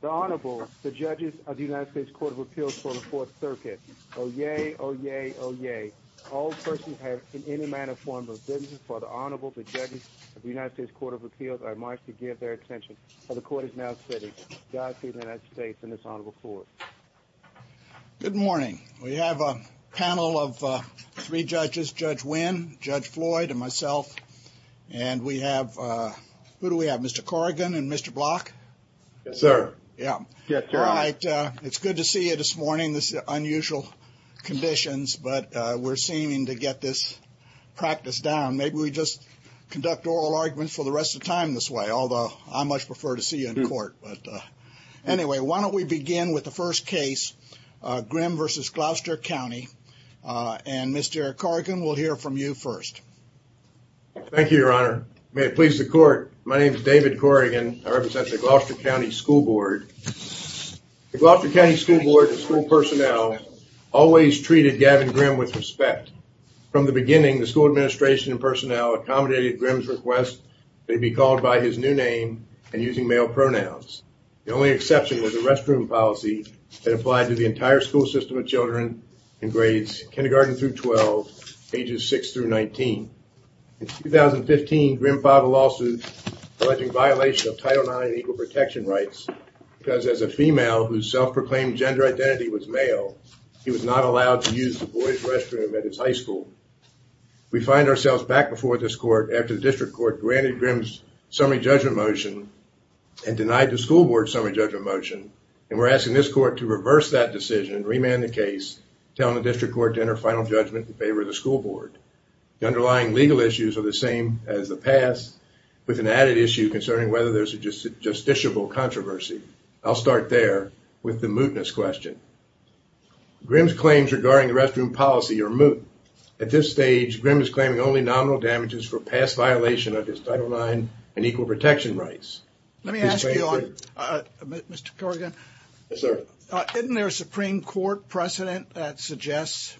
The Honorable, the Judges of the United States Court of Appeals for the Fourth Circuit, Oye Oye Oye. All persons have in any manner, form, or business before the Honorable, the Judges of the United States Court of Appeals, are admonished to give their attention, for the Court is now sitting. Godspeed to the United States and this Honorable Court. Good morning. We have a panel of three judges, Judge Wynn, Judge Floyd, and myself. And we have, who do we have, Mr. Corrigan and Mr. Block? Yes, sir. Yeah. All right. It's good to see you this morning. This is unusual conditions, but we're seeming to get this practice down. Maybe we just conduct oral arguments for the rest of time this way, although I much prefer to see you in court. But anyway, why don't we begin with the first case, Grimm v. Gloucester County. And Mr. Corrigan, we'll hear from you first. Thank you, Your Honor. May it please the Court. My name is David Corrigan. I represent the Gloucester County School Board. The Gloucester County School Board and school personnel always treated Gavin Grimm with respect. From the beginning, the school administration and personnel accommodated Grimm's request to be called by his new name and using male pronouns. The only exception was a restroom policy that applied to the entire school system of children in grades kindergarten through 12, ages 6 through 19. In 2015, Grimm filed a lawsuit alleging violation of Title IX and equal protection rights because as a female whose self-proclaimed gender identity was male, he was not allowed to use the boys' restroom at his high school. We find ourselves back before this court after the district court granted Grimm's summary judgment motion and denied the school board's summary judgment motion. And we're asking this court to reverse that decision, remand the case, telling the district court to enter final judgment in favor of the school board. The underlying legal issues are the same as the past, with an added issue concerning whether there's a justiciable controversy. I'll start there with the mootness question. Grimm's claims regarding the restroom policy are moot. At this stage, Grimm is claiming only nominal damages for past violation of his Title IX and equal protection rights. Let me ask you, Mr. Corrigan. Yes, sir. Isn't there a Supreme Court precedent that suggests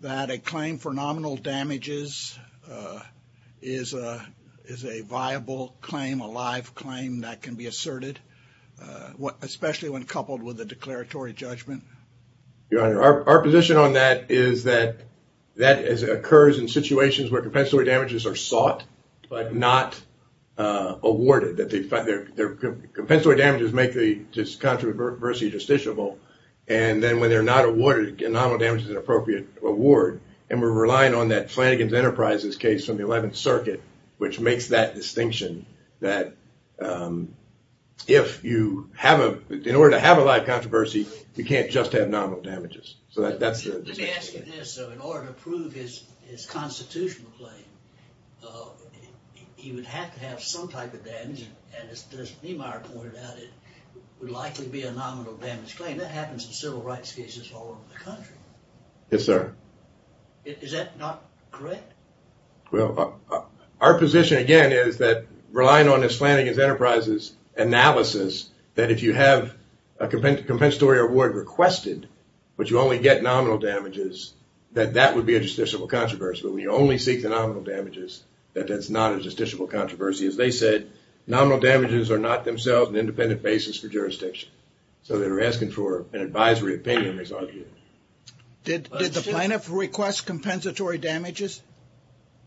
that a claim for nominal damages is a viable claim, a live claim that can be asserted, especially when coupled with a declaratory judgment? Your Honor, our position on that is that that occurs in situations where compensatory damages are sought but not awarded. Compensatory damages make the controversy justiciable. And then when they're not awarded, nominal damage is an appropriate award. And we're relying on that Flanagan's Enterprises case from the 11th Circuit, which makes that distinction that if you have a, in order to have a live controversy, you can't just have nominal damages. Let me ask you this. In order to prove his constitutional claim, he would have to have some type of damage, and as Mr. Niemeyer pointed out, it would likely be a nominal damage claim. That happens in civil rights cases all over the country. Yes, sir. Is that not correct? Well, our position, again, is that relying on this Flanagan's Enterprises analysis, that if you have a compensatory award requested, but you only get nominal damages, that that would be a justiciable controversy. But when you only seek the nominal damages, that that's not a justiciable controversy. As they said, nominal damages are not themselves an independent basis for jurisdiction. So they were asking for an advisory opinion, as argued. Did the plaintiff request compensatory damages?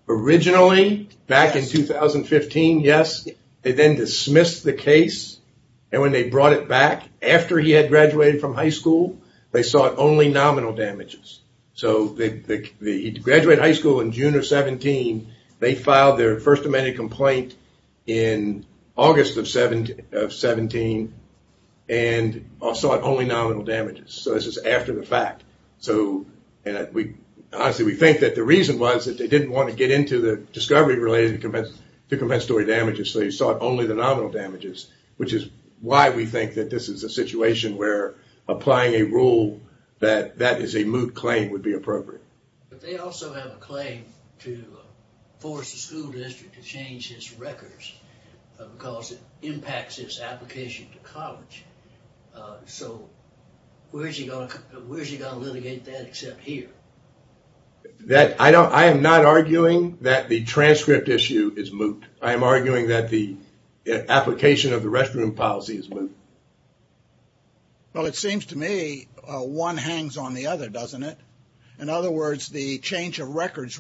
Originally, back in 2015, yes. They then dismissed the case, and when they brought it back, after he had graduated from high school, they sought only nominal damages. So he graduated high school in June of 17, they filed their first amendment complaint in August of 17, and sought only nominal damages. So this is after the fact. Honestly, we think that the reason was that they didn't want to get into the discovery related to compensatory damages, so they sought only the nominal damages. Which is why we think that this is a situation where applying a rule that that is a moot claim would be appropriate. But they also have a claim to force the school district to change his records, because it impacts his application to college. So where's he going to litigate that except here? I am not arguing that the transcript issue is moot. I am arguing that the application of the restroom policy is moot. Well, it seems to me one hangs on the other, doesn't it? In other words, the change of records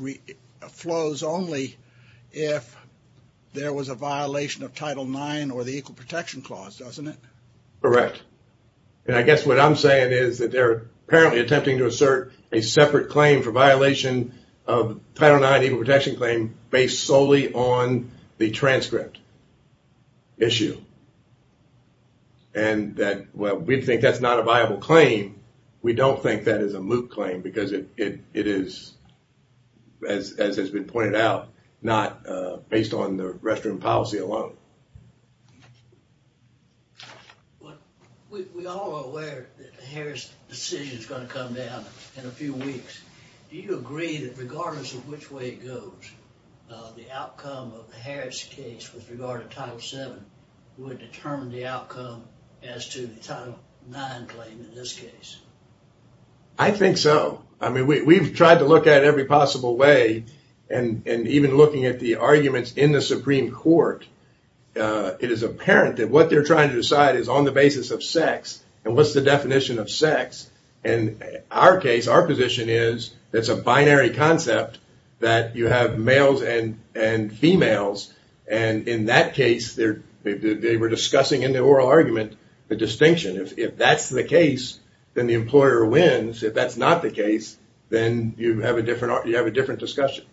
flows only if there was a violation of Title IX or the Equal Protection Clause, doesn't it? Correct. And I guess what I'm saying is that they're apparently attempting to assert a separate claim for violation of Title IX Equal Protection Claim based solely on the transcript issue. And that, well, we think that's not a viable claim. We don't think that is a moot claim, because it is, as has been pointed out, not based on the restroom policy alone. We all are aware that the Harris decision is going to come down in a few weeks. Do you agree that regardless of which way it goes, the outcome of the Harris case with regard to Title VII would determine the outcome as to the Title IX claim in this case? I think so. I mean, we've tried to look at it every possible way. And even looking at the arguments in the Supreme Court, it is apparent that what they're trying to decide is on the basis of sex. And what's the definition of sex? And our case, our position is it's a binary concept that you have males and females. And in that case, they were discussing in the oral argument the distinction. If that's the case, then the employer wins. If that's not the case, then you have a different discussion.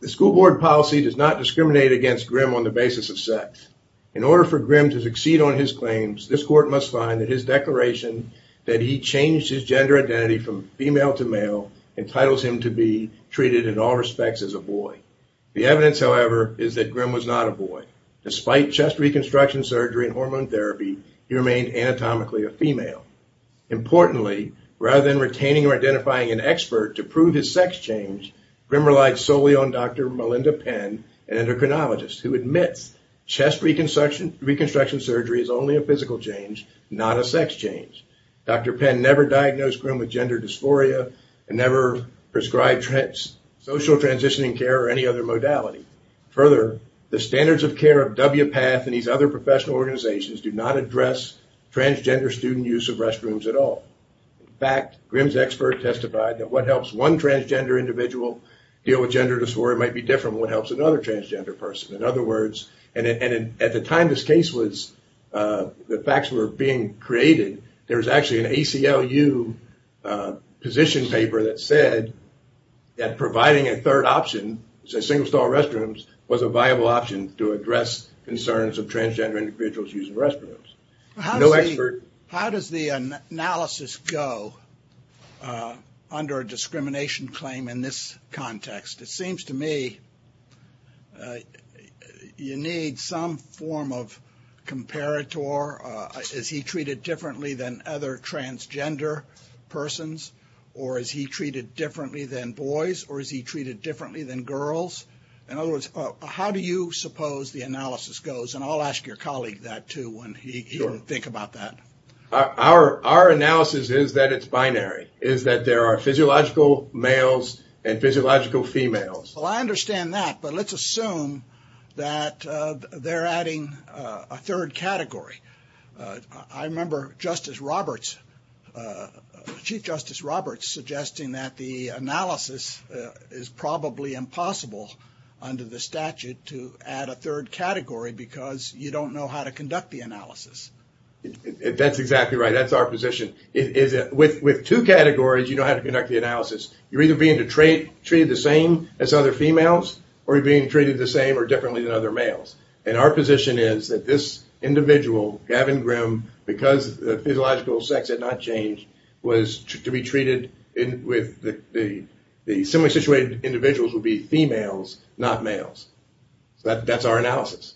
The school board policy does not discriminate against Grimm on the basis of sex. In order for Grimm to succeed on his claims, this court must find that his declaration that he changed his gender identity from female to male entitles him to be treated in all respects as a boy. The evidence, however, is that Grimm was not a boy. Despite chest reconstruction surgery and hormone therapy, he remained anatomically a female. Importantly, rather than retaining or identifying an expert to prove his sex change, Grimm relied solely on Dr. Melinda Penn, an endocrinologist, who admits chest reconstruction surgery is only a physical change, not a sex change. Dr. Penn never diagnosed Grimm with gender dysphoria and never prescribed social transitioning care or any other modality. Further, the standards of care of WPATH and these other professional organizations do not address transgender student use of restrooms at all. In fact, Grimm's expert testified that what helps one transgender individual deal with gender dysphoria might be different than what helps another transgender person. In other words, and at the time this case was, the facts were being created, there was actually an ACLU position paper that said that providing a third option, single stall restrooms, was a viable option to address concerns of transgender individuals using restrooms. How does the analysis go under a discrimination claim in this context? It seems to me you need some form of comparator. Is he treated differently than other transgender persons, or is he treated differently than boys, or is he treated differently than girls? In other words, how do you suppose the analysis goes? And I'll ask your colleague that, too, when he can think about that. Our analysis is that it's binary, is that there are physiological males and physiological females. Well, I understand that, but let's assume that they're adding a third category. I remember Chief Justice Roberts suggesting that the analysis is probably impossible under the statute to add a third category because you don't know how to conduct the analysis. That's exactly right, that's our position. With two categories, you know how to conduct the analysis. You're either being treated the same as other females, or you're being treated the same or differently than other males. And our position is that this individual, Gavin Grimm, because the physiological sex had not changed, was to be treated with the similarly situated individuals would be females, not males. That's our analysis.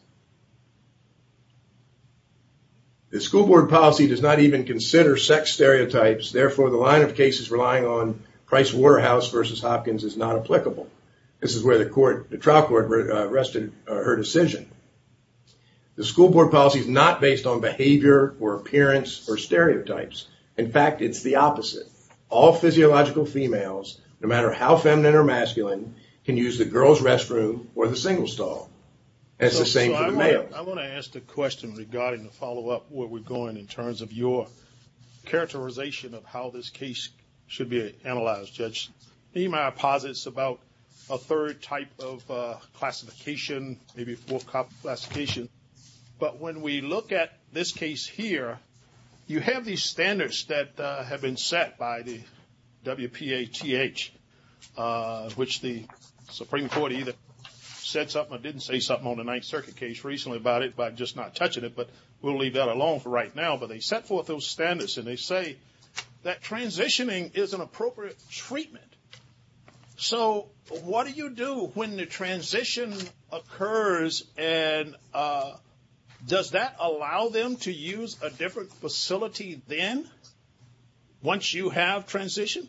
The school board policy does not even consider sex stereotypes. Therefore, the line of cases relying on Price Waterhouse versus Hopkins is not applicable. This is where the trial court rested her decision. The school board policy is not based on behavior or appearance or stereotypes. In fact, it's the opposite. All physiological females, no matter how feminine or masculine, can use the girls' restroom or the single stall. That's the same for the males. I want to ask a question regarding the follow-up where we're going in terms of your characterization of how this case should be analyzed, Judge. Nehemiah posits about a third type of classification, maybe a fourth classification. But when we look at this case here, you have these standards that have been set by the WPATH, which the Supreme Court either said something or didn't say something on the Ninth Circuit case recently about it by just not touching it. But we'll leave that alone for right now. But they set forth those standards, and they say that transitioning is an appropriate treatment. So what do you do when the transition occurs, and does that allow them to use a different facility then once you have transitioned?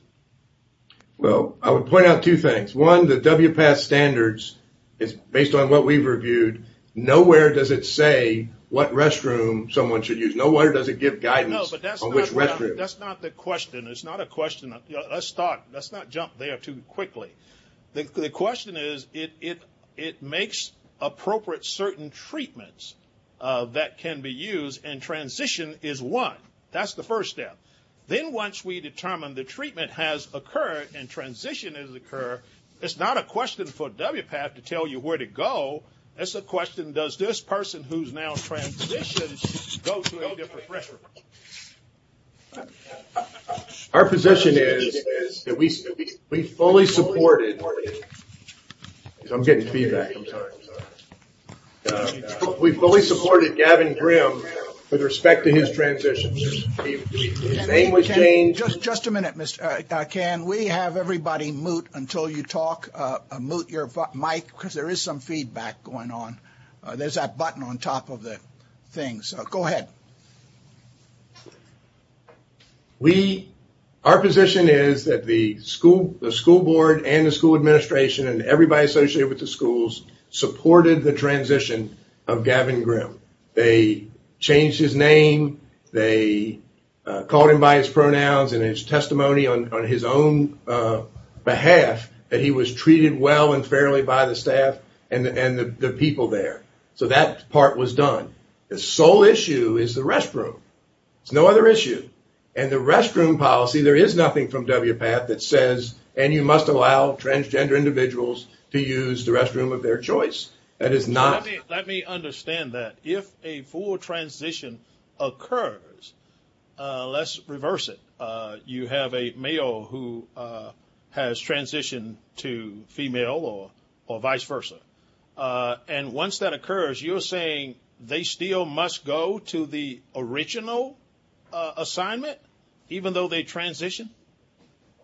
Well, I would point out two things. One, the WPATH standards is based on what we've reviewed. Nowhere does it say what restroom someone should use. Nowhere does it give guidance on which restroom. That's not the question. It's not a question. Let's not jump there too quickly. The question is it makes appropriate certain treatments that can be used, and transition is one. That's the first step. Then once we determine the treatment has occurred and transition has occurred, it's not a question for WPATH to tell you where to go. That's the question. Does this person who's now transitioned go to a different restroom? Our position is that we fully supported. I'm getting feedback sometimes. We fully supported Gavin Grimm with respect to his transitions. His name was changed. Just a minute, Ken. We have everybody mute until you talk. Mute your mic because there is some feedback going on. There's that button on top of the things. Go ahead. Our position is that the school board and the school administration and everybody associated with the schools supported the transition of Gavin Grimm. They changed his name. They called him by his pronouns and his testimony on his own behalf that he was treated well and fairly by the staff and the people there. So that part was done. The sole issue is the restroom. There's no other issue. And the restroom policy, there is nothing from WPATH that says, and you must allow transgender individuals to use the restroom of their choice. That is not. Let me understand that. If a full transition occurs, let's reverse it. You have a male who has transitioned to female or vice versa. And once that occurs, you're saying they still must go to the original assignment even though they transitioned?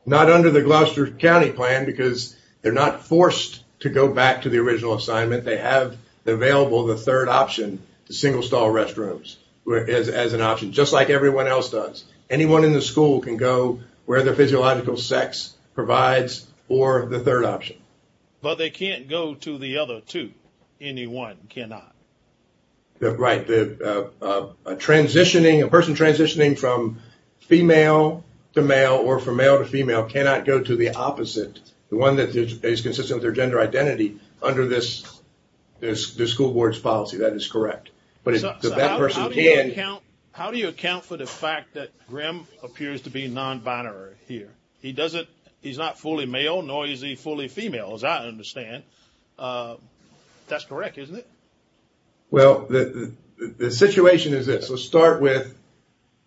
Not under the Gloucester County plan because they're not forced to go back to the original assignment. They have available the third option, the single stall restrooms as an option, just like everyone else does. Anyone in the school can go where their physiological sex provides or the third option. But they can't go to the other two. Anyone cannot. Right. A person transitioning from female to male or from male to female cannot go to the opposite. The one that is consistent with their gender identity under this school board's policy. That is correct. How do you account for the fact that Grim appears to be non-binary here? He's not fully male, nor is he fully female, as I understand. That's correct, isn't it? Well, the situation is this. Let's start with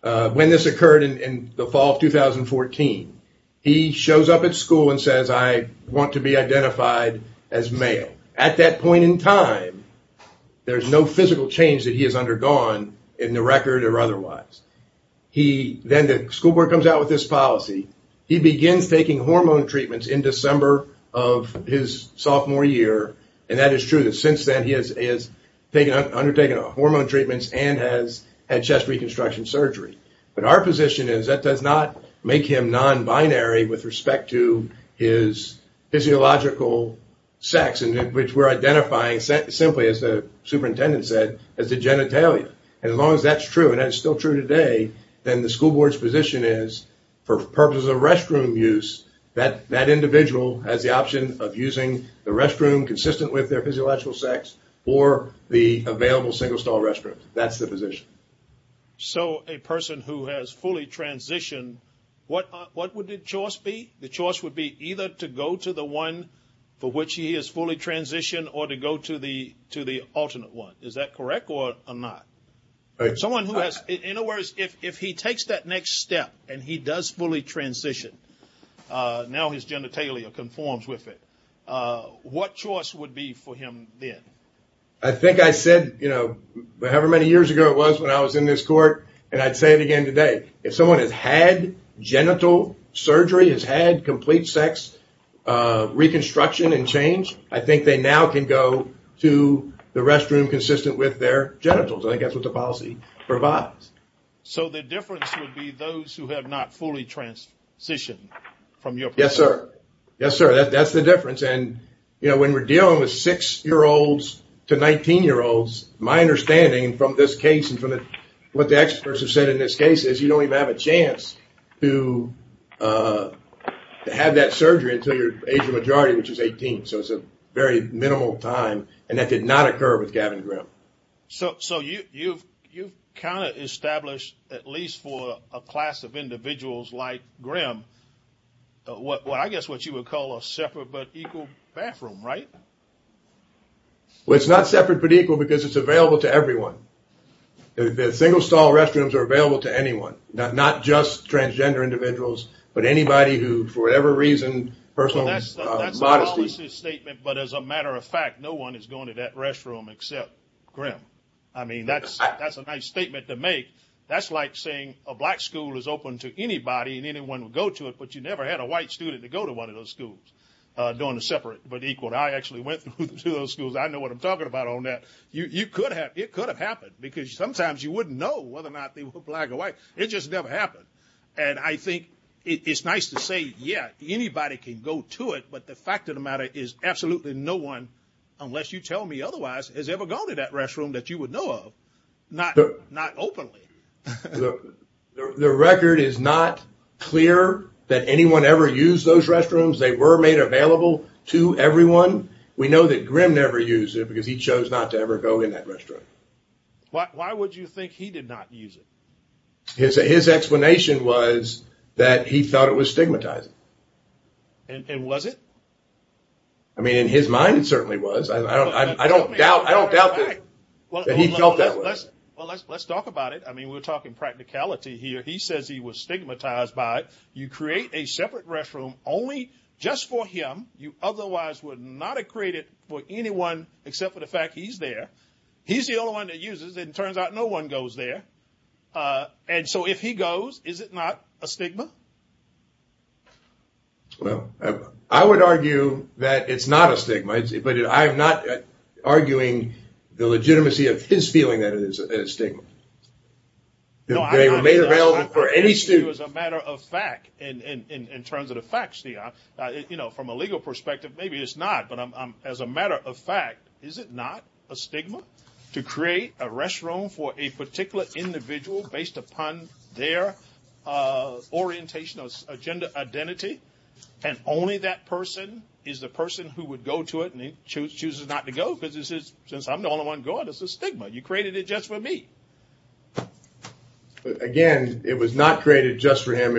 when this occurred in the fall of 2014. He shows up at school and says, I want to be identified as male. At that point in time, there's no physical change that he has undergone in the record or otherwise. Then the school board comes out with this policy. He begins taking hormone treatments in December of his sophomore year. And that is true. Since then, he has undertaken hormone treatments and has had chest reconstruction surgery. But our position is that does not make him non-binary with respect to his physiological sex, which we're identifying simply, as the superintendent said, as a genitalia. And as long as that's true, and that's still true today, then the school board's position is for purposes of restroom use, that individual has the option of using the restroom consistent with their physiological sex or the available single-stall restroom. That's the position. So a person who has fully transitioned, what would the choice be? The choice would be either to go to the one for which he has fully transitioned or to go to the alternate one. Is that correct or not? In other words, if he takes that next step and he does fully transition, now his genitalia conforms with it, what choice would be for him then? I think I said, you know, however many years ago it was when I was in this court, and I'd say it again today, if someone has had genital surgery, has had complete sex reconstruction and change, I think they now can go to the restroom consistent with their genitals. I think that's what the policy provides. So the difference would be those who have not fully transitioned from your perspective? Yes, sir. Yes, sir. That's the difference. And, you know, when we're dealing with 6-year-olds to 19-year-olds, my understanding from this case and from what the experts have said in this case is you don't even have a chance to have that surgery until your age of majority, which is 18. So it's a very minimal time, and that did not occur with Gavin Grimm. So you've kind of established, at least for a class of individuals like Grimm, I guess what you would call a separate but equal bathroom, right? Well, it's not separate but equal because it's available to everyone. The single-stall restrooms are available to anyone, not just transgender individuals, but anybody who, for whatever reason, personal modesty. But as a matter of fact, no one is going to that restroom except Grimm. I mean, that's a nice statement to make. That's like saying a black school is open to anybody and anyone would go to it, but you never had a white student to go to one of those schools during the separate but equal. I actually went to those schools. I know what I'm talking about on that. You could have. It could have happened because sometimes you wouldn't know whether or not they were black or white. It just never happened. And I think it's nice to say, yeah, anybody can go to it, but the fact of the matter is absolutely no one, unless you tell me otherwise, has ever gone to that restroom that you would know of, not openly. The record is not clear that anyone ever used those restrooms. They were made available to everyone. We know that Grimm never used it because he chose not to ever go in that restroom. Why would you think he did not use it? His explanation was that he thought it was stigmatizing. And was it? I mean, in his mind, it certainly was. I don't doubt that he felt that way. Well, let's talk about it. I mean, we're talking practicality here. He says he was stigmatized by you create a separate restroom only just for him. You otherwise would not have created for anyone except for the fact he's there. He's the only one that uses it. It turns out no one goes there. And so if he goes, is it not a stigma? Well, I would argue that it's not a stigma, but I'm not arguing the legitimacy of his feeling that it is a stigma. They were made available for any student. It was a matter of fact, in terms of the facts, you know, from a legal perspective, maybe it's not, but as a matter of fact, is it not a stigma to create a restroom for a particular individual based upon their orientation or gender identity? And only that person is the person who would go to it and chooses not to go, because since I'm the only one going, it's a stigma. You created it just for me. Again, it was not created just for him.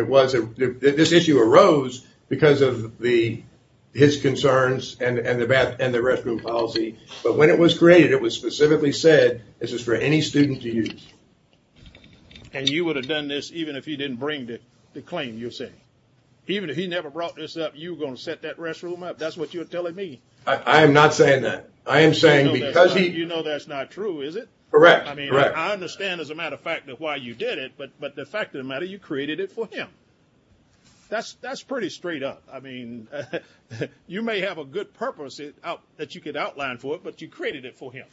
This issue arose because of his concerns and the restroom policy. But when it was created, it was specifically said, this is for any student to use. And you would have done this even if he didn't bring the claim, you're saying? Even if he never brought this up, you were going to set that restroom up? That's what you're telling me. I am not saying that. You know that's not true, is it? Correct. I mean, I understand as a matter of fact why you did it, but the fact of the matter, you created it for him. That's pretty straight up. I mean, you may have a good purpose that you could outline for, but you created it for him,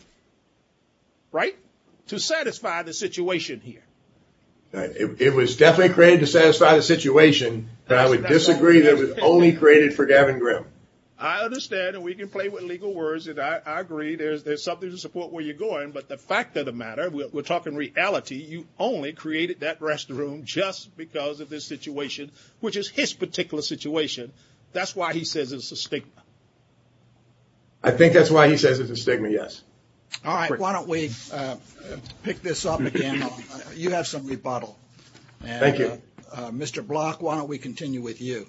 right? To satisfy the situation here. It was definitely created to satisfy the situation, but I would disagree that it was only created for Gavin Grimm. I understand, and we can play with legal words, and I agree. There's something to support where you're going, but the fact of the matter, we're talking reality, you only created that restroom just because of this situation, which is his particular situation. That's why he says it's a stigma. I think that's why he says it's a stigma, yes. All right, why don't we pick this up again? You have some rebuttal. Thank you. Mr. Block, why don't we continue with you?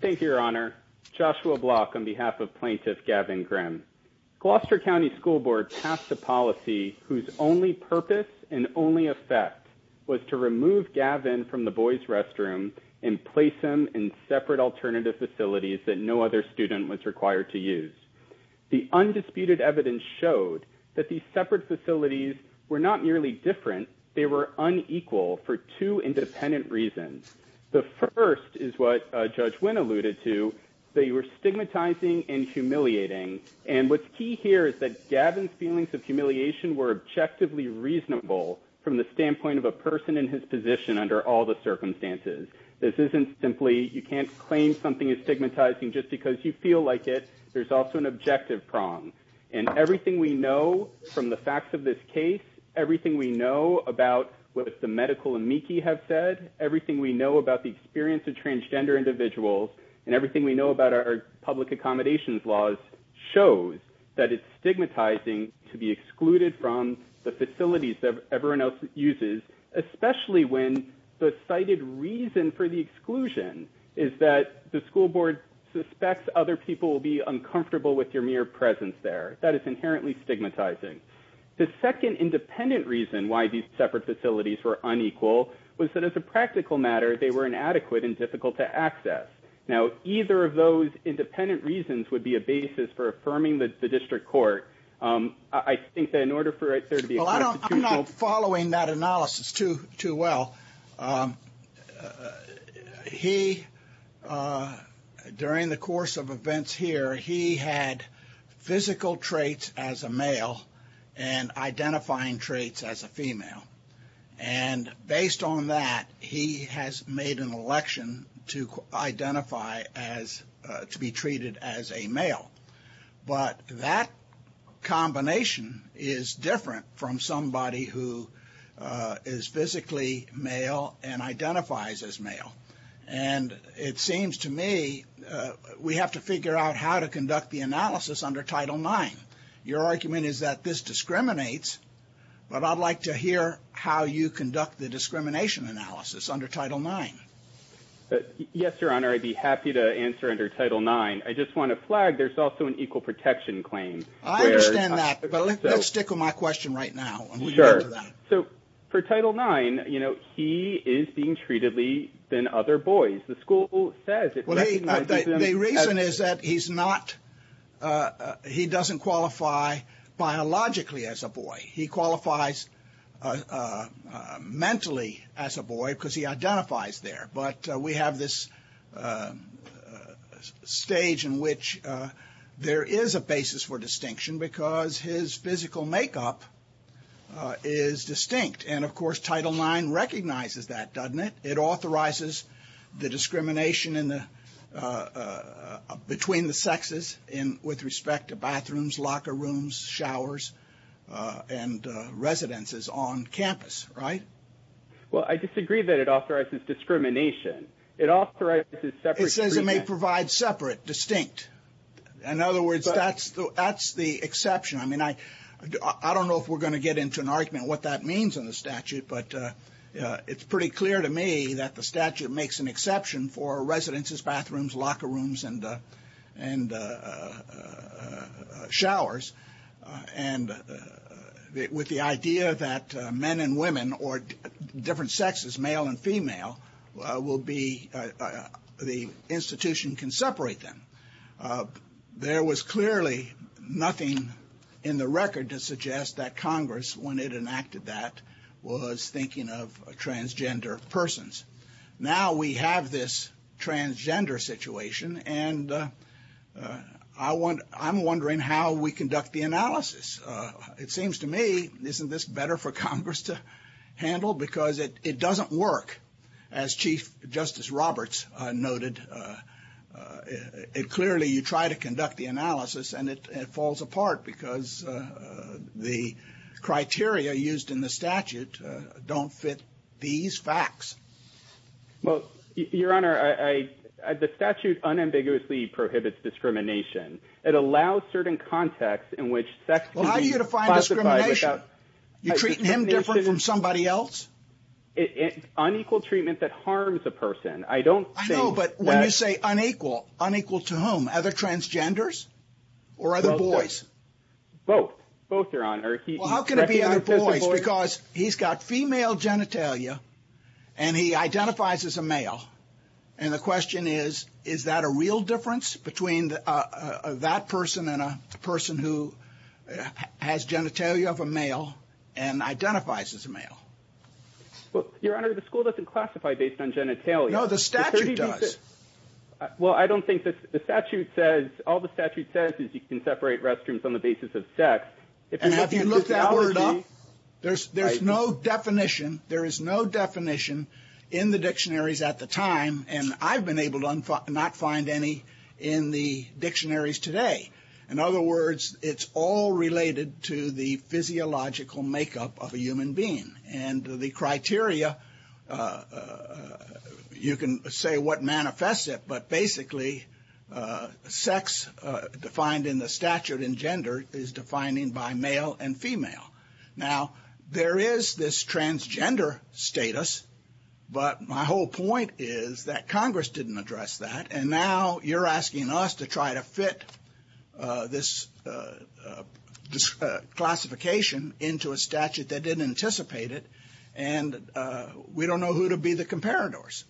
Thank you, Your Honor. Joshua Block on behalf of Plaintiff Gavin Grimm. Gloucester County School Board passed a policy whose only purpose and only effect was to remove Gavin from the boys' restroom and place him in separate alternative facilities that no other student was required to use. The undisputed evidence showed that these separate facilities were not merely different, they were unequal for two independent reasons. The first is what Judge Wynn alluded to, they were stigmatizing and humiliating, and what's key here is that Gavin's feelings of humiliation were objectively reasonable from the standpoint of a person in his position under all the circumstances. This isn't simply you can't claim something is stigmatizing just because you feel like it, there's also an objective prong. And everything we know from the facts of this case, everything we know about what the medical amici have said, everything we know about the experience of transgender individuals, and everything we know about our public accommodations laws shows that it's stigmatizing to be excluded from the facilities that everyone else uses, especially when the cited reason for the exclusion is that the school board suspects other people will be uncomfortable with your mere presence there. That is inherently stigmatizing. The second independent reason why these separate facilities were unequal was that as a practical matter they were inadequate and difficult to access. Now, either of those independent reasons would be a basis for affirming the district court. I think that in order for right there to be a constitutional Well, I'm not following that analysis too well. He, during the course of events here, he had physical traits as a male and identifying traits as a female. And based on that, he has made an election to identify as, to be treated as a male. But that combination is different from somebody who is physically male and identifies as male. And it seems to me we have to figure out how to conduct the analysis under Title IX. Your argument is that this discriminates, but I'd like to hear how you conduct the discrimination analysis under Title IX. Yes, Your Honor, I'd be happy to answer under Title IX. I just want to flag there's also an equal protection claim. I understand that, but let's stick with my question right now. Sure. So for Title IX, you know, he is being treatedly than other boys. The school says it recognizes him as He doesn't qualify biologically as a boy. He qualifies mentally as a boy because he identifies there. But we have this stage in which there is a basis for distinction because his physical makeup is distinct. And, of course, Title IX recognizes that, doesn't it? It authorizes the discrimination between the sexes with respect to bathrooms, locker rooms, showers, and residences on campus, right? Well, I disagree that it authorizes discrimination. It authorizes separate treatment. It says it may provide separate, distinct. In other words, that's the exception. I mean, I don't know if we're going to get into an argument what that means in the statute, but it's pretty clear to me that the statute makes an exception for residences, bathrooms, locker rooms, and showers. And with the idea that men and women or different sexes, male and female, will be the institution can separate them. There was clearly nothing in the record to suggest that Congress, when it enacted that, was thinking of transgender persons. Now we have this transgender situation, and I'm wondering how we conduct the analysis. It seems to me, isn't this better for Congress to handle? Because it doesn't work. As Chief Justice Roberts noted, clearly you try to conduct the analysis, and it falls apart because the criteria used in the statute don't fit these facts. Well, Your Honor, the statute unambiguously prohibits discrimination. It allows certain contexts in which sex can be classified without discrimination. Well, how do you define discrimination? You're treating him different from somebody else? It's unequal treatment that harms a person. I know, but when you say unequal, unequal to whom? Other transgenders or other boys? Both. Both, Your Honor. Well, how can it be other boys? Because he's got female genitalia, and he identifies as a male. And the question is, is that a real difference between that person and a person who has genitalia of a male and identifies as a male? Well, Your Honor, the school doesn't classify based on genitalia. No, the statute does. Well, I don't think the statute says, all the statute says is you can separate restrooms on the basis of sex. And have you looked that word up? There's no definition. There is no definition in the dictionaries at the time, and I've been able to not find any in the dictionaries today. In other words, it's all related to the physiological makeup of a human being. And the criteria, you can say what manifests it, but basically, sex defined in the statute in gender is defining by male and female. Now, there is this transgender status, but my whole point is that Congress didn't address that. And now you're asking us to try to fit this classification into a statute that didn't anticipate it, and we don't know who to be the comparators.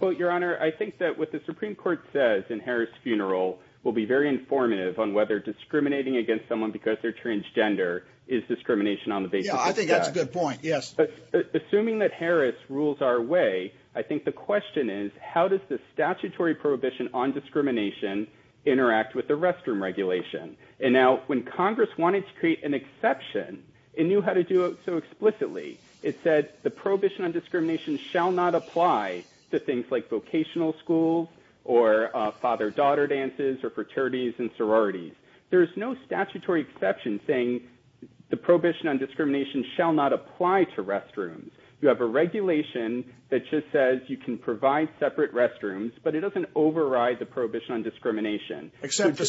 Well, Your Honor, I think that what the Supreme Court says in Harris' funeral will be very informative on whether discriminating against someone because they're transgender is discrimination on the basis of sex. Yeah, I think that's a good point, yes. Assuming that Harris rules our way, I think the question is how does the statutory prohibition on discrimination interact with the restroom regulation? And now, when Congress wanted to create an exception, it knew how to do it so explicitly. It said the prohibition on discrimination shall not apply to things like vocational schools or father-daughter dances or fraternities and sororities. There is no statutory exception saying the prohibition on discrimination shall not apply to restrooms. You have a regulation that just says you can provide separate restrooms, but it doesn't override the prohibition on discrimination. Except the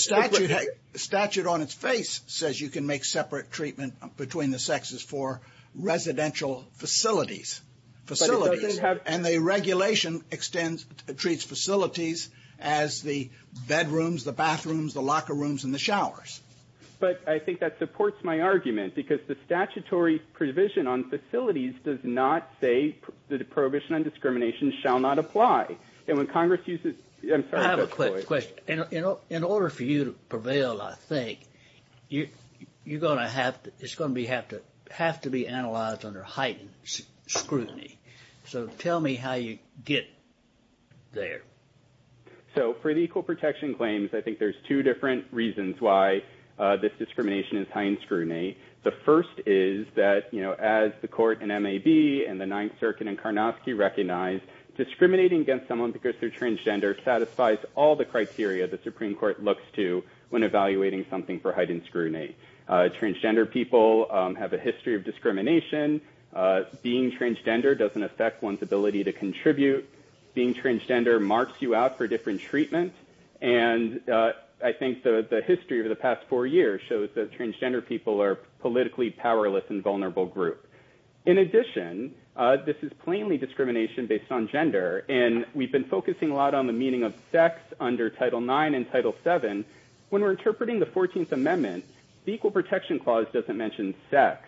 statute on its face says you can make separate treatment between the sexes for residential facilities. And the regulation treats facilities as the bedrooms, the bathrooms, the locker rooms, and the showers. But I think that supports my argument because the statutory provision on facilities does not say the prohibition on discrimination shall not apply. I have a quick question. In order for you to prevail, I think, it's going to have to be analyzed under heightened scrutiny. So tell me how you get there. So for the equal protection claims, I think there's two different reasons why this discrimination is heightened scrutiny. The first is that as the court in MAB and the Ninth Circuit in Karnofsky recognized, discriminating against someone because they're transgender satisfies all the criteria the Supreme Court looks to when evaluating something for heightened scrutiny. Transgender people have a history of discrimination. Being transgender doesn't affect one's ability to contribute. Being transgender marks you out for different treatment. And I think the history of the past four years shows that transgender people are politically powerless and vulnerable group. In addition, this is plainly discrimination based on gender. And we've been focusing a lot on the meaning of sex under Title IX and Title VII. When we're interpreting the 14th Amendment, the Equal Protection Clause doesn't mention sex.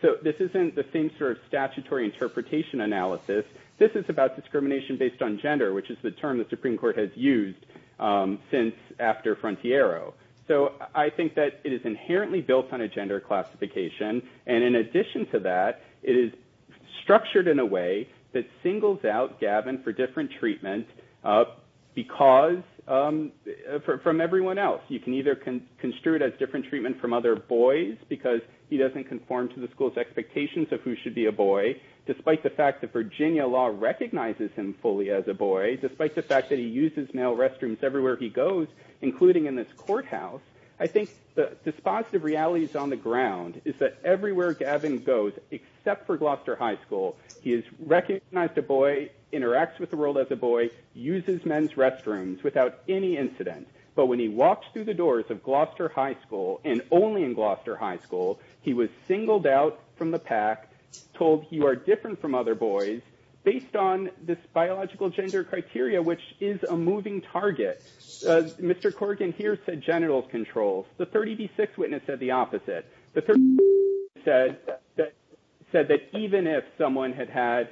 So this isn't the same sort of statutory interpretation analysis. This is about discrimination based on gender, which is the term the Supreme Court has used since after Frontiero. So I think that it is inherently built on a gender classification. And in addition to that, it is structured in a way that singles out Gavin for different treatment from everyone else. You can either construe it as different treatment from other boys because he doesn't conform to the school's expectations of who should be a boy, despite the fact that Virginia law recognizes him fully as a boy, despite the fact that he uses male restrooms everywhere he goes, including in this courthouse. I think the dispositive reality is on the ground, is that everywhere Gavin goes, except for Gloucester High School, he has recognized a boy, interacts with the world as a boy, uses men's restrooms without any incident. But when he walks through the doors of Gloucester High School, and only in Gloucester High School, he was singled out from the pack, told you are different from other boys, based on this biological gender criteria, which is a moving target. Mr. Corrigan here said genital controls. The 30B6 witness said the opposite. The 30B6 witness said that even if someone had had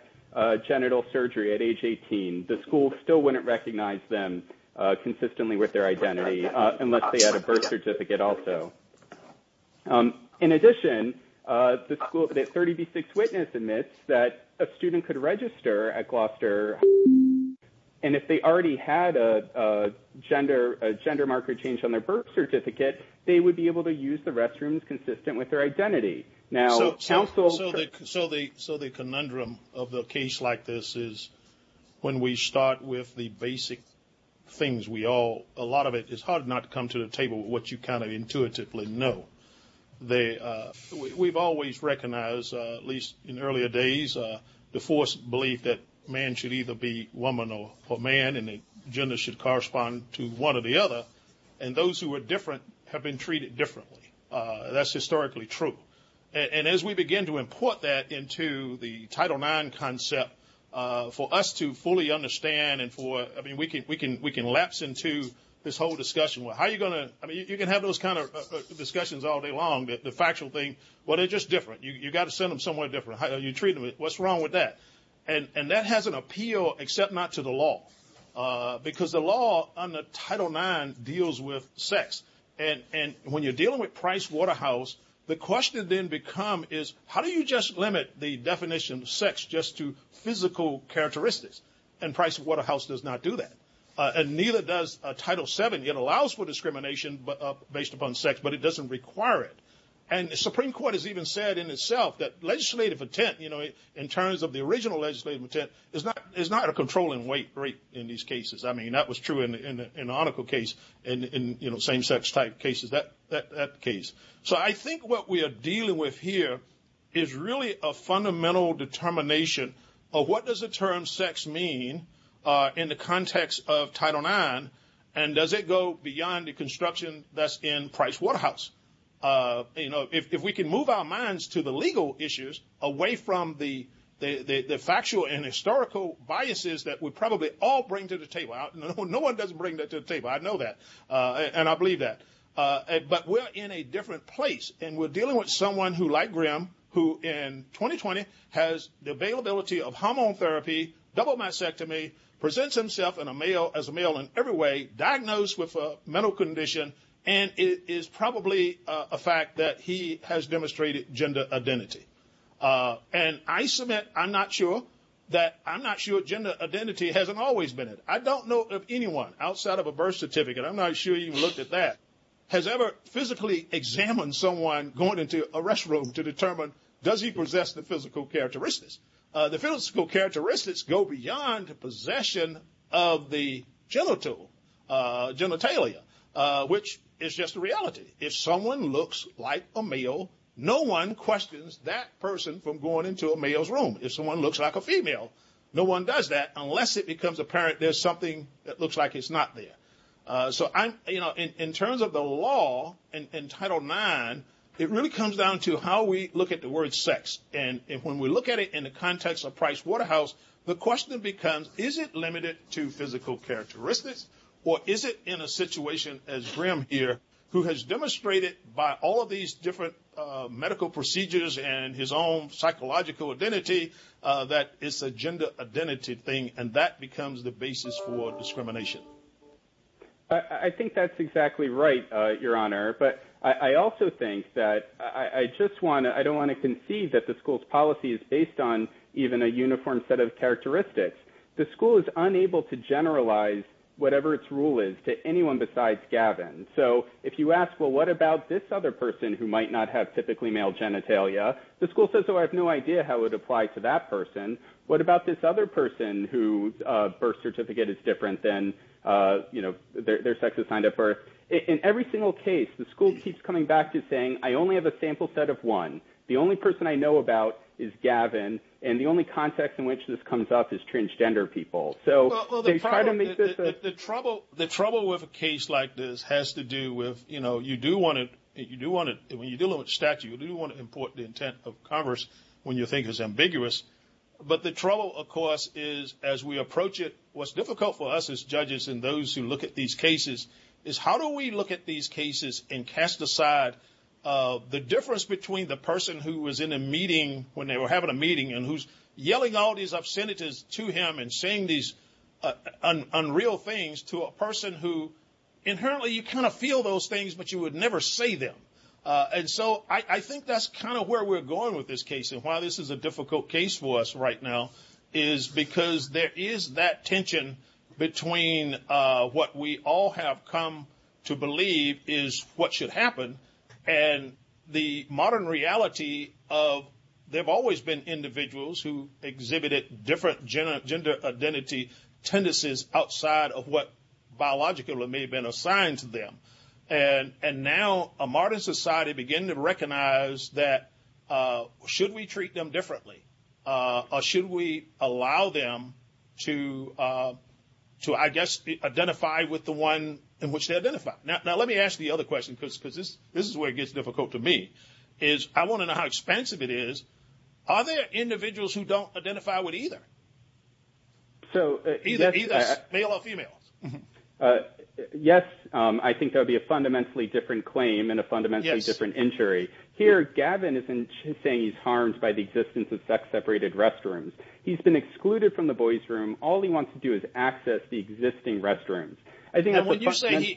genital surgery at age 18, the school still wouldn't recognize them consistently with their identity unless they had a birth certificate also. In addition, the 30B6 witness admits that a student could register at Gloucester High School, and if they already had a gender marker change on their birth certificate, they would be able to use the restrooms consistent with their identity. So the conundrum of a case like this is when we start with the basic things, a lot of it is hard not to come to the table with what you kind of intuitively know. We've always recognized, at least in earlier days, the forced belief that man should either be woman or man, and that gender should correspond to one or the other. And those who are different have been treated differently. That's historically true. And as we begin to import that into the Title IX concept, for us to fully understand, I mean, we can lapse into this whole discussion. Well, how are you going to – I mean, you can have those kind of discussions all day long, the factual thing. Well, they're just different. You've got to send them somewhere different. How are you treating them? What's wrong with that? And that has an appeal, except not to the law, because the law under Title IX deals with sex. And when you're dealing with Price Waterhouse, the question then becomes is how do you just limit the definition of sex just to physical characteristics? And Price Waterhouse does not do that. And neither does Title VII. It allows for discrimination based upon sex, but it doesn't require it. And the Supreme Court has even said in itself that legislative intent, in terms of the original legislative intent, is not a controlling weight in these cases. I mean, that was true in the article case, in same-sex type cases, that case. So I think what we are dealing with here is really a fundamental determination of what does the term sex mean in the context of Title IX, and does it go beyond the construction that's in Price Waterhouse? You know, if we can move our minds to the legal issues away from the factual and historical biases that we probably all bring to the table. No one does bring that to the table. I know that, and I believe that. But we're in a different place, and we're dealing with someone who, like Grim, who in 2020 has the availability of hormone therapy, double mastectomy, presents himself as a male in every way, diagnosed with a mental condition, and it is probably a fact that he has demonstrated gender identity. And I submit I'm not sure that gender identity hasn't always been it. I don't know of anyone outside of a birth certificate, I'm not sure you've looked at that, has ever physically examined someone going into a restroom to determine does he possess the physical characteristics. The physical characteristics go beyond the possession of the genitalia, which is just a reality. If someone looks like a male, no one questions that person from going into a male's room. If someone looks like a female, no one does that unless it becomes apparent there's something that looks like it's not there. So in terms of the law in Title IX, it really comes down to how we look at the word sex. And when we look at it in the context of Price Waterhouse, the question becomes, is it limited to physical characteristics, or is it in a situation as Grim here, who has demonstrated by all of these different medical procedures and his own psychological identity, that it's a gender identity thing, and that becomes the basis for discrimination. I think that's exactly right, Your Honor. But I also think that I don't want to concede that the school's policy is based on even a uniform set of characteristics. The school is unable to generalize whatever its rule is to anyone besides Gavin. So if you ask, well, what about this other person who might not have typically male genitalia, the school says, well, I have no idea how it would apply to that person. What about this other person whose birth certificate is different than their sex assigned at birth? In every single case, the school keeps coming back to saying, I only have a sample set of one. The only person I know about is Gavin, and the only context in which this comes up is transgender people. The trouble with a case like this has to do with, you know, you do want to, when you're dealing with statute, you do want to import the intent of converse when you think it's ambiguous. But the trouble, of course, is as we approach it, what's difficult for us as judges and those who look at these cases, is how do we look at these cases and cast aside the difference between the person who was in a meeting, when they were having a meeting, and who's yelling all these obscenities to him and saying these unreal things, to a person who inherently you kind of feel those things, but you would never say them. And so I think that's kind of where we're going with this case and why this is a difficult case for us right now, is because there is that tension between what we all have come to believe is what should happen and the modern reality of there have always been individuals who exhibited different gender identity tendencies outside of what biologically may have been assigned to them. And now a modern society begin to recognize that should we treat them differently, or should we allow them to, I guess, identify with the one in which they identify. Now, let me ask the other question, because this is where it gets difficult to me, is I want to know how expensive it is. Are there individuals who don't identify with either? Either male or females. Yes, I think there would be a fundamentally different claim and a fundamentally different injury. Here, Gavin isn't saying he's harmed by the existence of sex-separated restrooms. He's been excluded from the boys' room. All he wants to do is access the existing restrooms.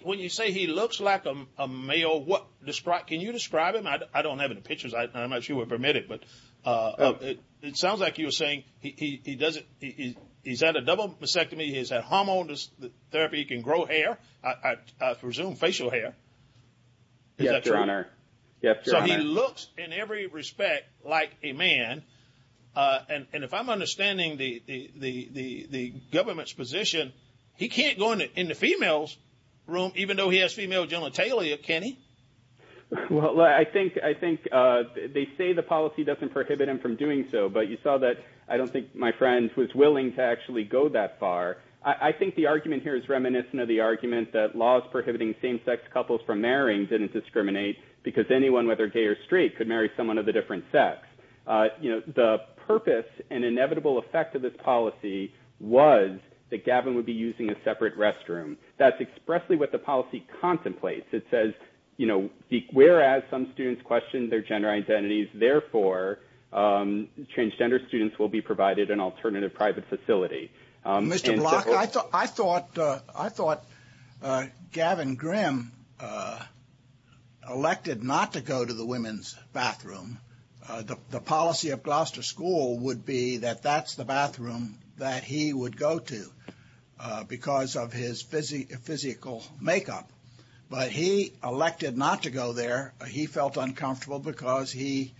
When you say he looks like a male, can you describe him? I don't have any pictures. I'm not sure we're permitted, but it sounds like you're saying he's had a double mastectomy, he's had hormone therapy, he can grow hair, I presume facial hair. Yes, Your Honor. And if I'm understanding the government's position, he can't go into females' room, even though he has female genitalia, can he? Well, I think they say the policy doesn't prohibit him from doing so, but you saw that I don't think my friend was willing to actually go that far. I think the argument here is reminiscent of the argument that laws prohibiting same-sex couples from marrying didn't discriminate because anyone, whether gay or straight, could marry someone of a different sex. You know, the purpose and inevitable effect of this policy was that Gavin would be using a separate restroom. That's expressly what the policy contemplates. It says, you know, whereas some students question their gender identities, therefore, transgender students will be provided an alternative private facility. Mr. Block, I thought Gavin Grimm elected not to go to the women's bathroom. The policy of Gloucester School would be that that's the bathroom that he would go to because of his physical makeup. But he elected not to go there. He felt uncomfortable because he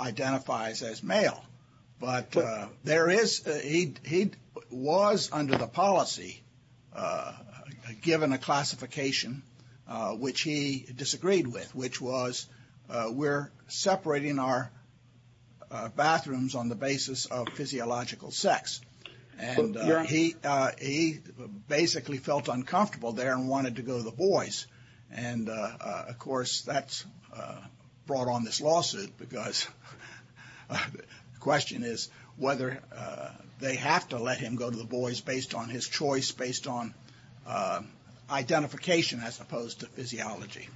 identifies as male. But there is, he was under the policy, given a classification, which he disagreed with, which was we're separating our bathrooms on the basis of physiological sex. And he basically felt uncomfortable there and wanted to go to the boys. And, of course, that brought on this lawsuit because the question is whether they have to let him go to the boys based on his choice, based on identification as opposed to physiology.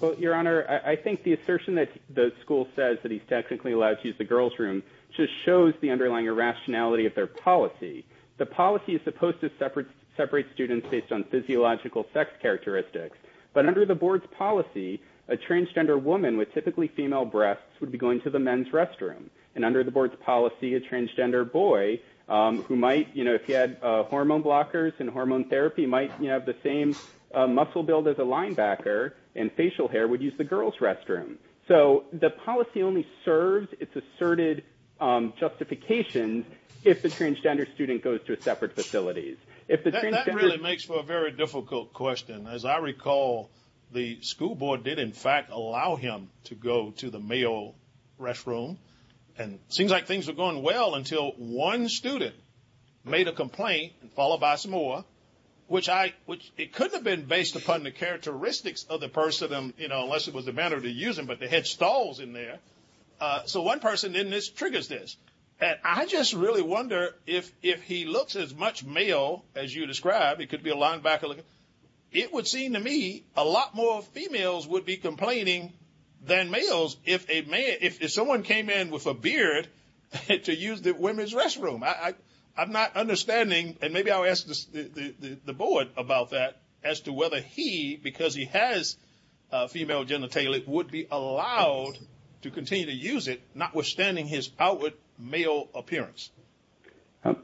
Well, Your Honor, I think the assertion that the school says that he's technically allowed to use the girls' room just shows the underlying irrationality of their policy. The policy is supposed to separate students based on physiological sex characteristics. But under the board's policy, a transgender woman with typically female breasts would be going to the men's restroom. And under the board's policy, a transgender boy who might, if he had hormone blockers and hormone therapy, might have the same muscle build as a linebacker and facial hair would use the girls' restroom. So the policy only serves its asserted justifications if the transgender student goes to separate facilities. That really makes for a very difficult question. As I recall, the school board did, in fact, allow him to go to the male restroom. And it seems like things were going well until one student made a complaint, followed by some more, which it couldn't have been based upon the characteristics of the person unless it was the manner to use them, but they had stalls in there. So one person in this triggers this. And I just really wonder if he looks as much male as you describe, it could be a linebacker, it would seem to me a lot more females would be complaining than males if someone came in with a beard to use the women's restroom. I'm not understanding, and maybe I'll ask the board about that, as to whether he, because he has female genitalia, would be allowed to continue to use it, notwithstanding his outward male appearance.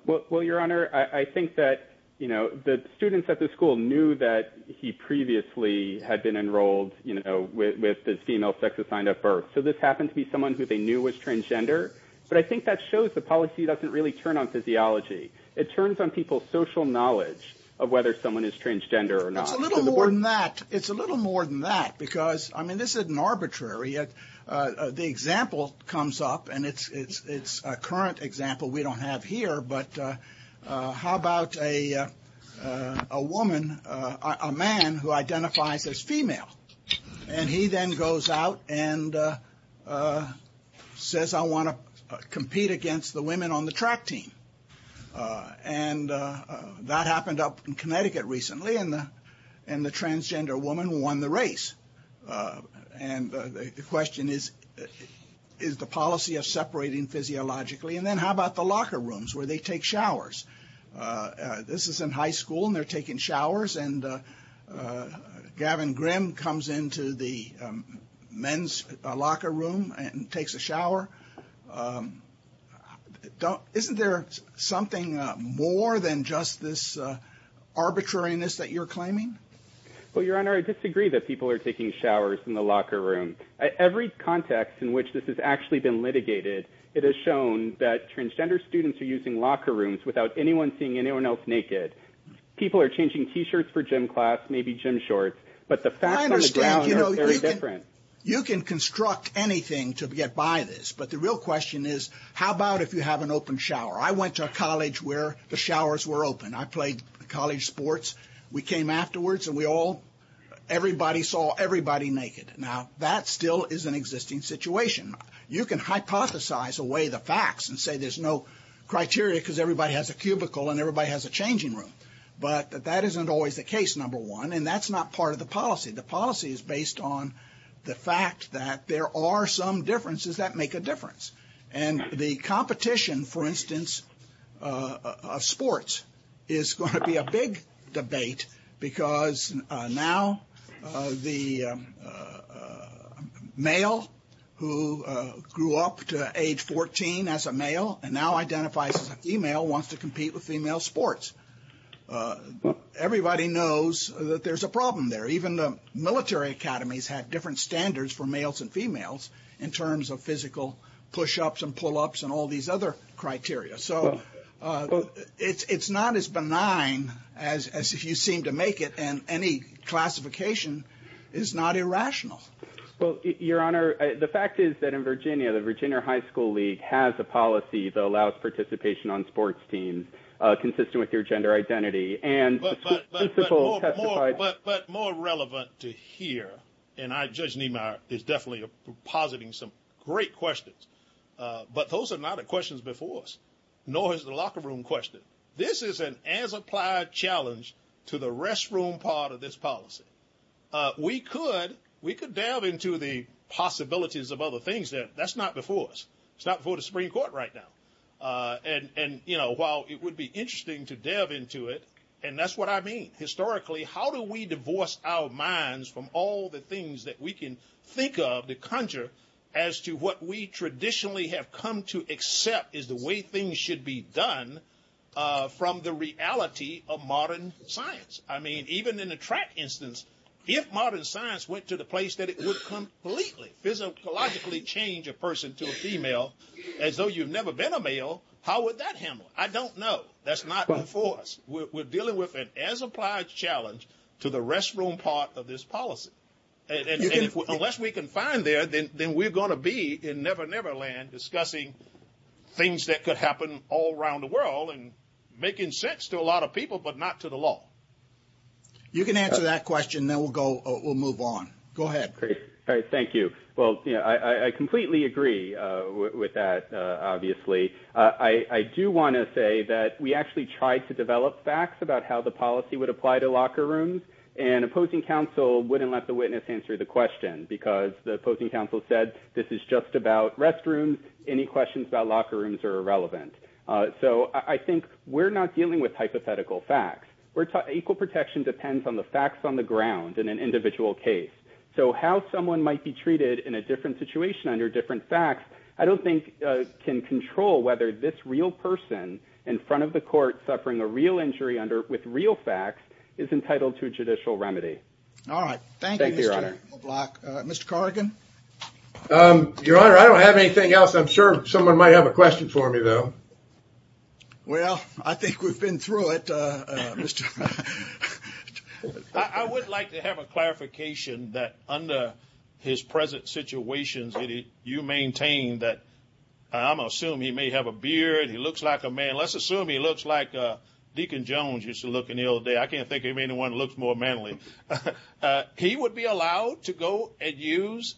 Well, Your Honor, I think that, you know, the students at the school knew that he previously had been enrolled with the female sex assigned at birth. So this happened to be someone who they knew was transgender. But I think that shows the policy doesn't really turn on physiology. It turns on people's social knowledge of whether someone is transgender or not. It's a little more than that. It's a little more than that because, I mean, this isn't arbitrary. The example comes up, and it's a current example we don't have here. But how about a woman, a man who identifies as female, and he then goes out and says, I want to compete against the women on the track team. And that happened up in Connecticut recently, and the transgender woman won the race. And the question is, is the policy of separating physiologically? And then how about the locker rooms where they take showers? This is in high school, and they're taking showers. And Gavin Grimm comes into the men's locker room and takes a shower. Isn't there something more than just this arbitrariness that you're claiming? Well, Your Honor, I disagree that people are taking showers in the locker room. At every context in which this has actually been litigated, it has shown that transgender students are using locker rooms without anyone seeing anyone else naked. People are changing T-shirts for gym class, maybe gym shorts. But the facts on the ground are very different. You can construct anything to get by this, but the real question is, how about if you have an open shower? I went to a college where the showers were open. I played college sports. We came afterwards, and everybody saw everybody naked. Now, that still is an existing situation. You can hypothesize away the facts and say there's no criteria because everybody has a cubicle and everybody has a changing room. But that isn't always the case, number one, and that's not part of the policy. The policy is based on the fact that there are some differences that make a difference. And the competition, for instance, of sports, is going to be a big debate because now the male who grew up to age 14 as a male and now identifies as a female wants to compete with female sports. Everybody knows that there's a problem there. Even the military academies had different standards for males and females in terms of physical push-ups and pull-ups and all these other criteria. So it's not as benign as if you seem to make it, and any classification is not irrational. Well, Your Honor, the fact is that in Virginia, the Virginia High School League has a policy that allows participation on sports teams consistent with your gender identity. But more relevant to hear, and Judge Niemeyer is definitely positing some great questions, but those are not questions before us. Nor is it a locker room question. This is an as-applied challenge to the restroom part of this policy. We could delve into the possibilities of other things there. That's not before us. It's not before the Supreme Court right now. And, you know, while it would be interesting to delve into it, and that's what I mean. Historically, how do we divorce our minds from all the things that we can think of, as to what we traditionally have come to accept is the way things should be done from the reality of modern science? I mean, even in the track instance, if modern science went to the place that it would completely, physiologically change a person to a female, as though you've never been a male, how would that handle? I don't know. That's not before us. We're dealing with an as-applied challenge to the restroom part of this policy. Unless we can find there, then we're going to be in Never Never Land discussing things that could happen all around the world and making sense to a lot of people, but not to the law. You can answer that question, and then we'll move on. Go ahead. All right, thank you. Well, I completely agree with that, obviously. I do want to say that we actually tried to develop facts about how the policy would apply to locker rooms, and opposing counsel wouldn't let the witness answer the question because the opposing counsel said, this is just about restrooms, any questions about locker rooms are irrelevant. So I think we're not dealing with hypothetical facts. Equal protection depends on the facts on the ground in an individual case. So how someone might be treated in a different situation under different facts, I don't think can control whether this real person in front of the court, suffering a real injury with real facts, is entitled to a judicial remedy. All right. Thank you, Mr. Block. Mr. Carligan? Your Honor, I don't have anything else. I'm sure someone might have a question for me, though. Well, I think we've been through it. I would like to have a clarification that under his present situation that you maintain that, I'm going to assume he may have a beard, he looks like a man. Let's assume he looks like Deacon Jones used to look in the old days. I can't think of anyone who looks more manly. He would be allowed to go and use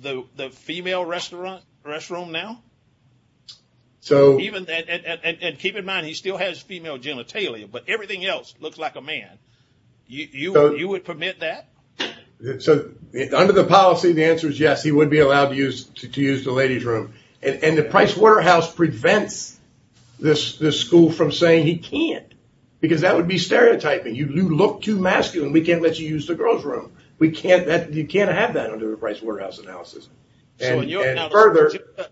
the female restroom now? And keep in mind, he still has female genitalia, but everything else looks like a man. You would permit that? Under the policy, the answer is yes, he would be allowed to use the ladies' room. And the Price Waterhouse prevents this school from saying he can't, because that would be stereotyping. You look too masculine. We can't let you use the girls' room. You can't have that under the Price Waterhouse analysis. So your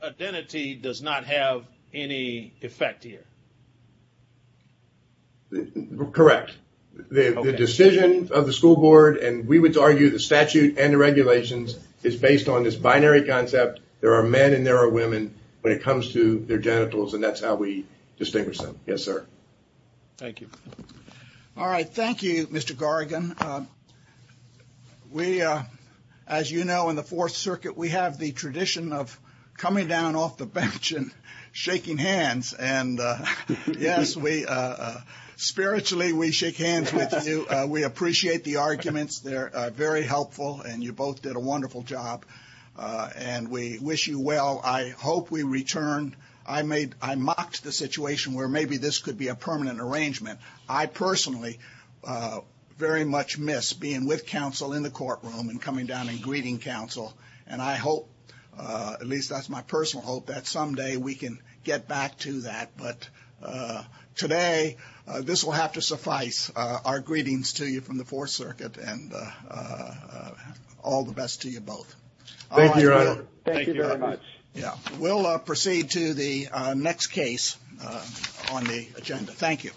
identity does not have any effect here? Correct. The decision of the school board, and we would argue the statute and the regulations, is based on this binary concept. There are men and there are women when it comes to their genitals, and that's how we distinguish them. Yes, sir. Thank you. All right. Thank you, Mr. Gargan. We, as you know, in the Fourth Circuit, we have the tradition of coming down off the bench and shaking hands. And, yes, spiritually we shake hands with you. We appreciate the arguments. They're very helpful, and you both did a wonderful job. And we wish you well. I hope we return. I mocked the situation where maybe this could be a permanent arrangement. I personally very much miss being with counsel in the courtroom and coming down and greeting counsel. And I hope, at least that's my personal hope, that someday we can get back to that. But today this will have to suffice, our greetings to you from the Fourth Circuit, and all the best to you both. Thank you, Your Honor. Thank you very much. We'll proceed to the next case on the agenda. Thank you.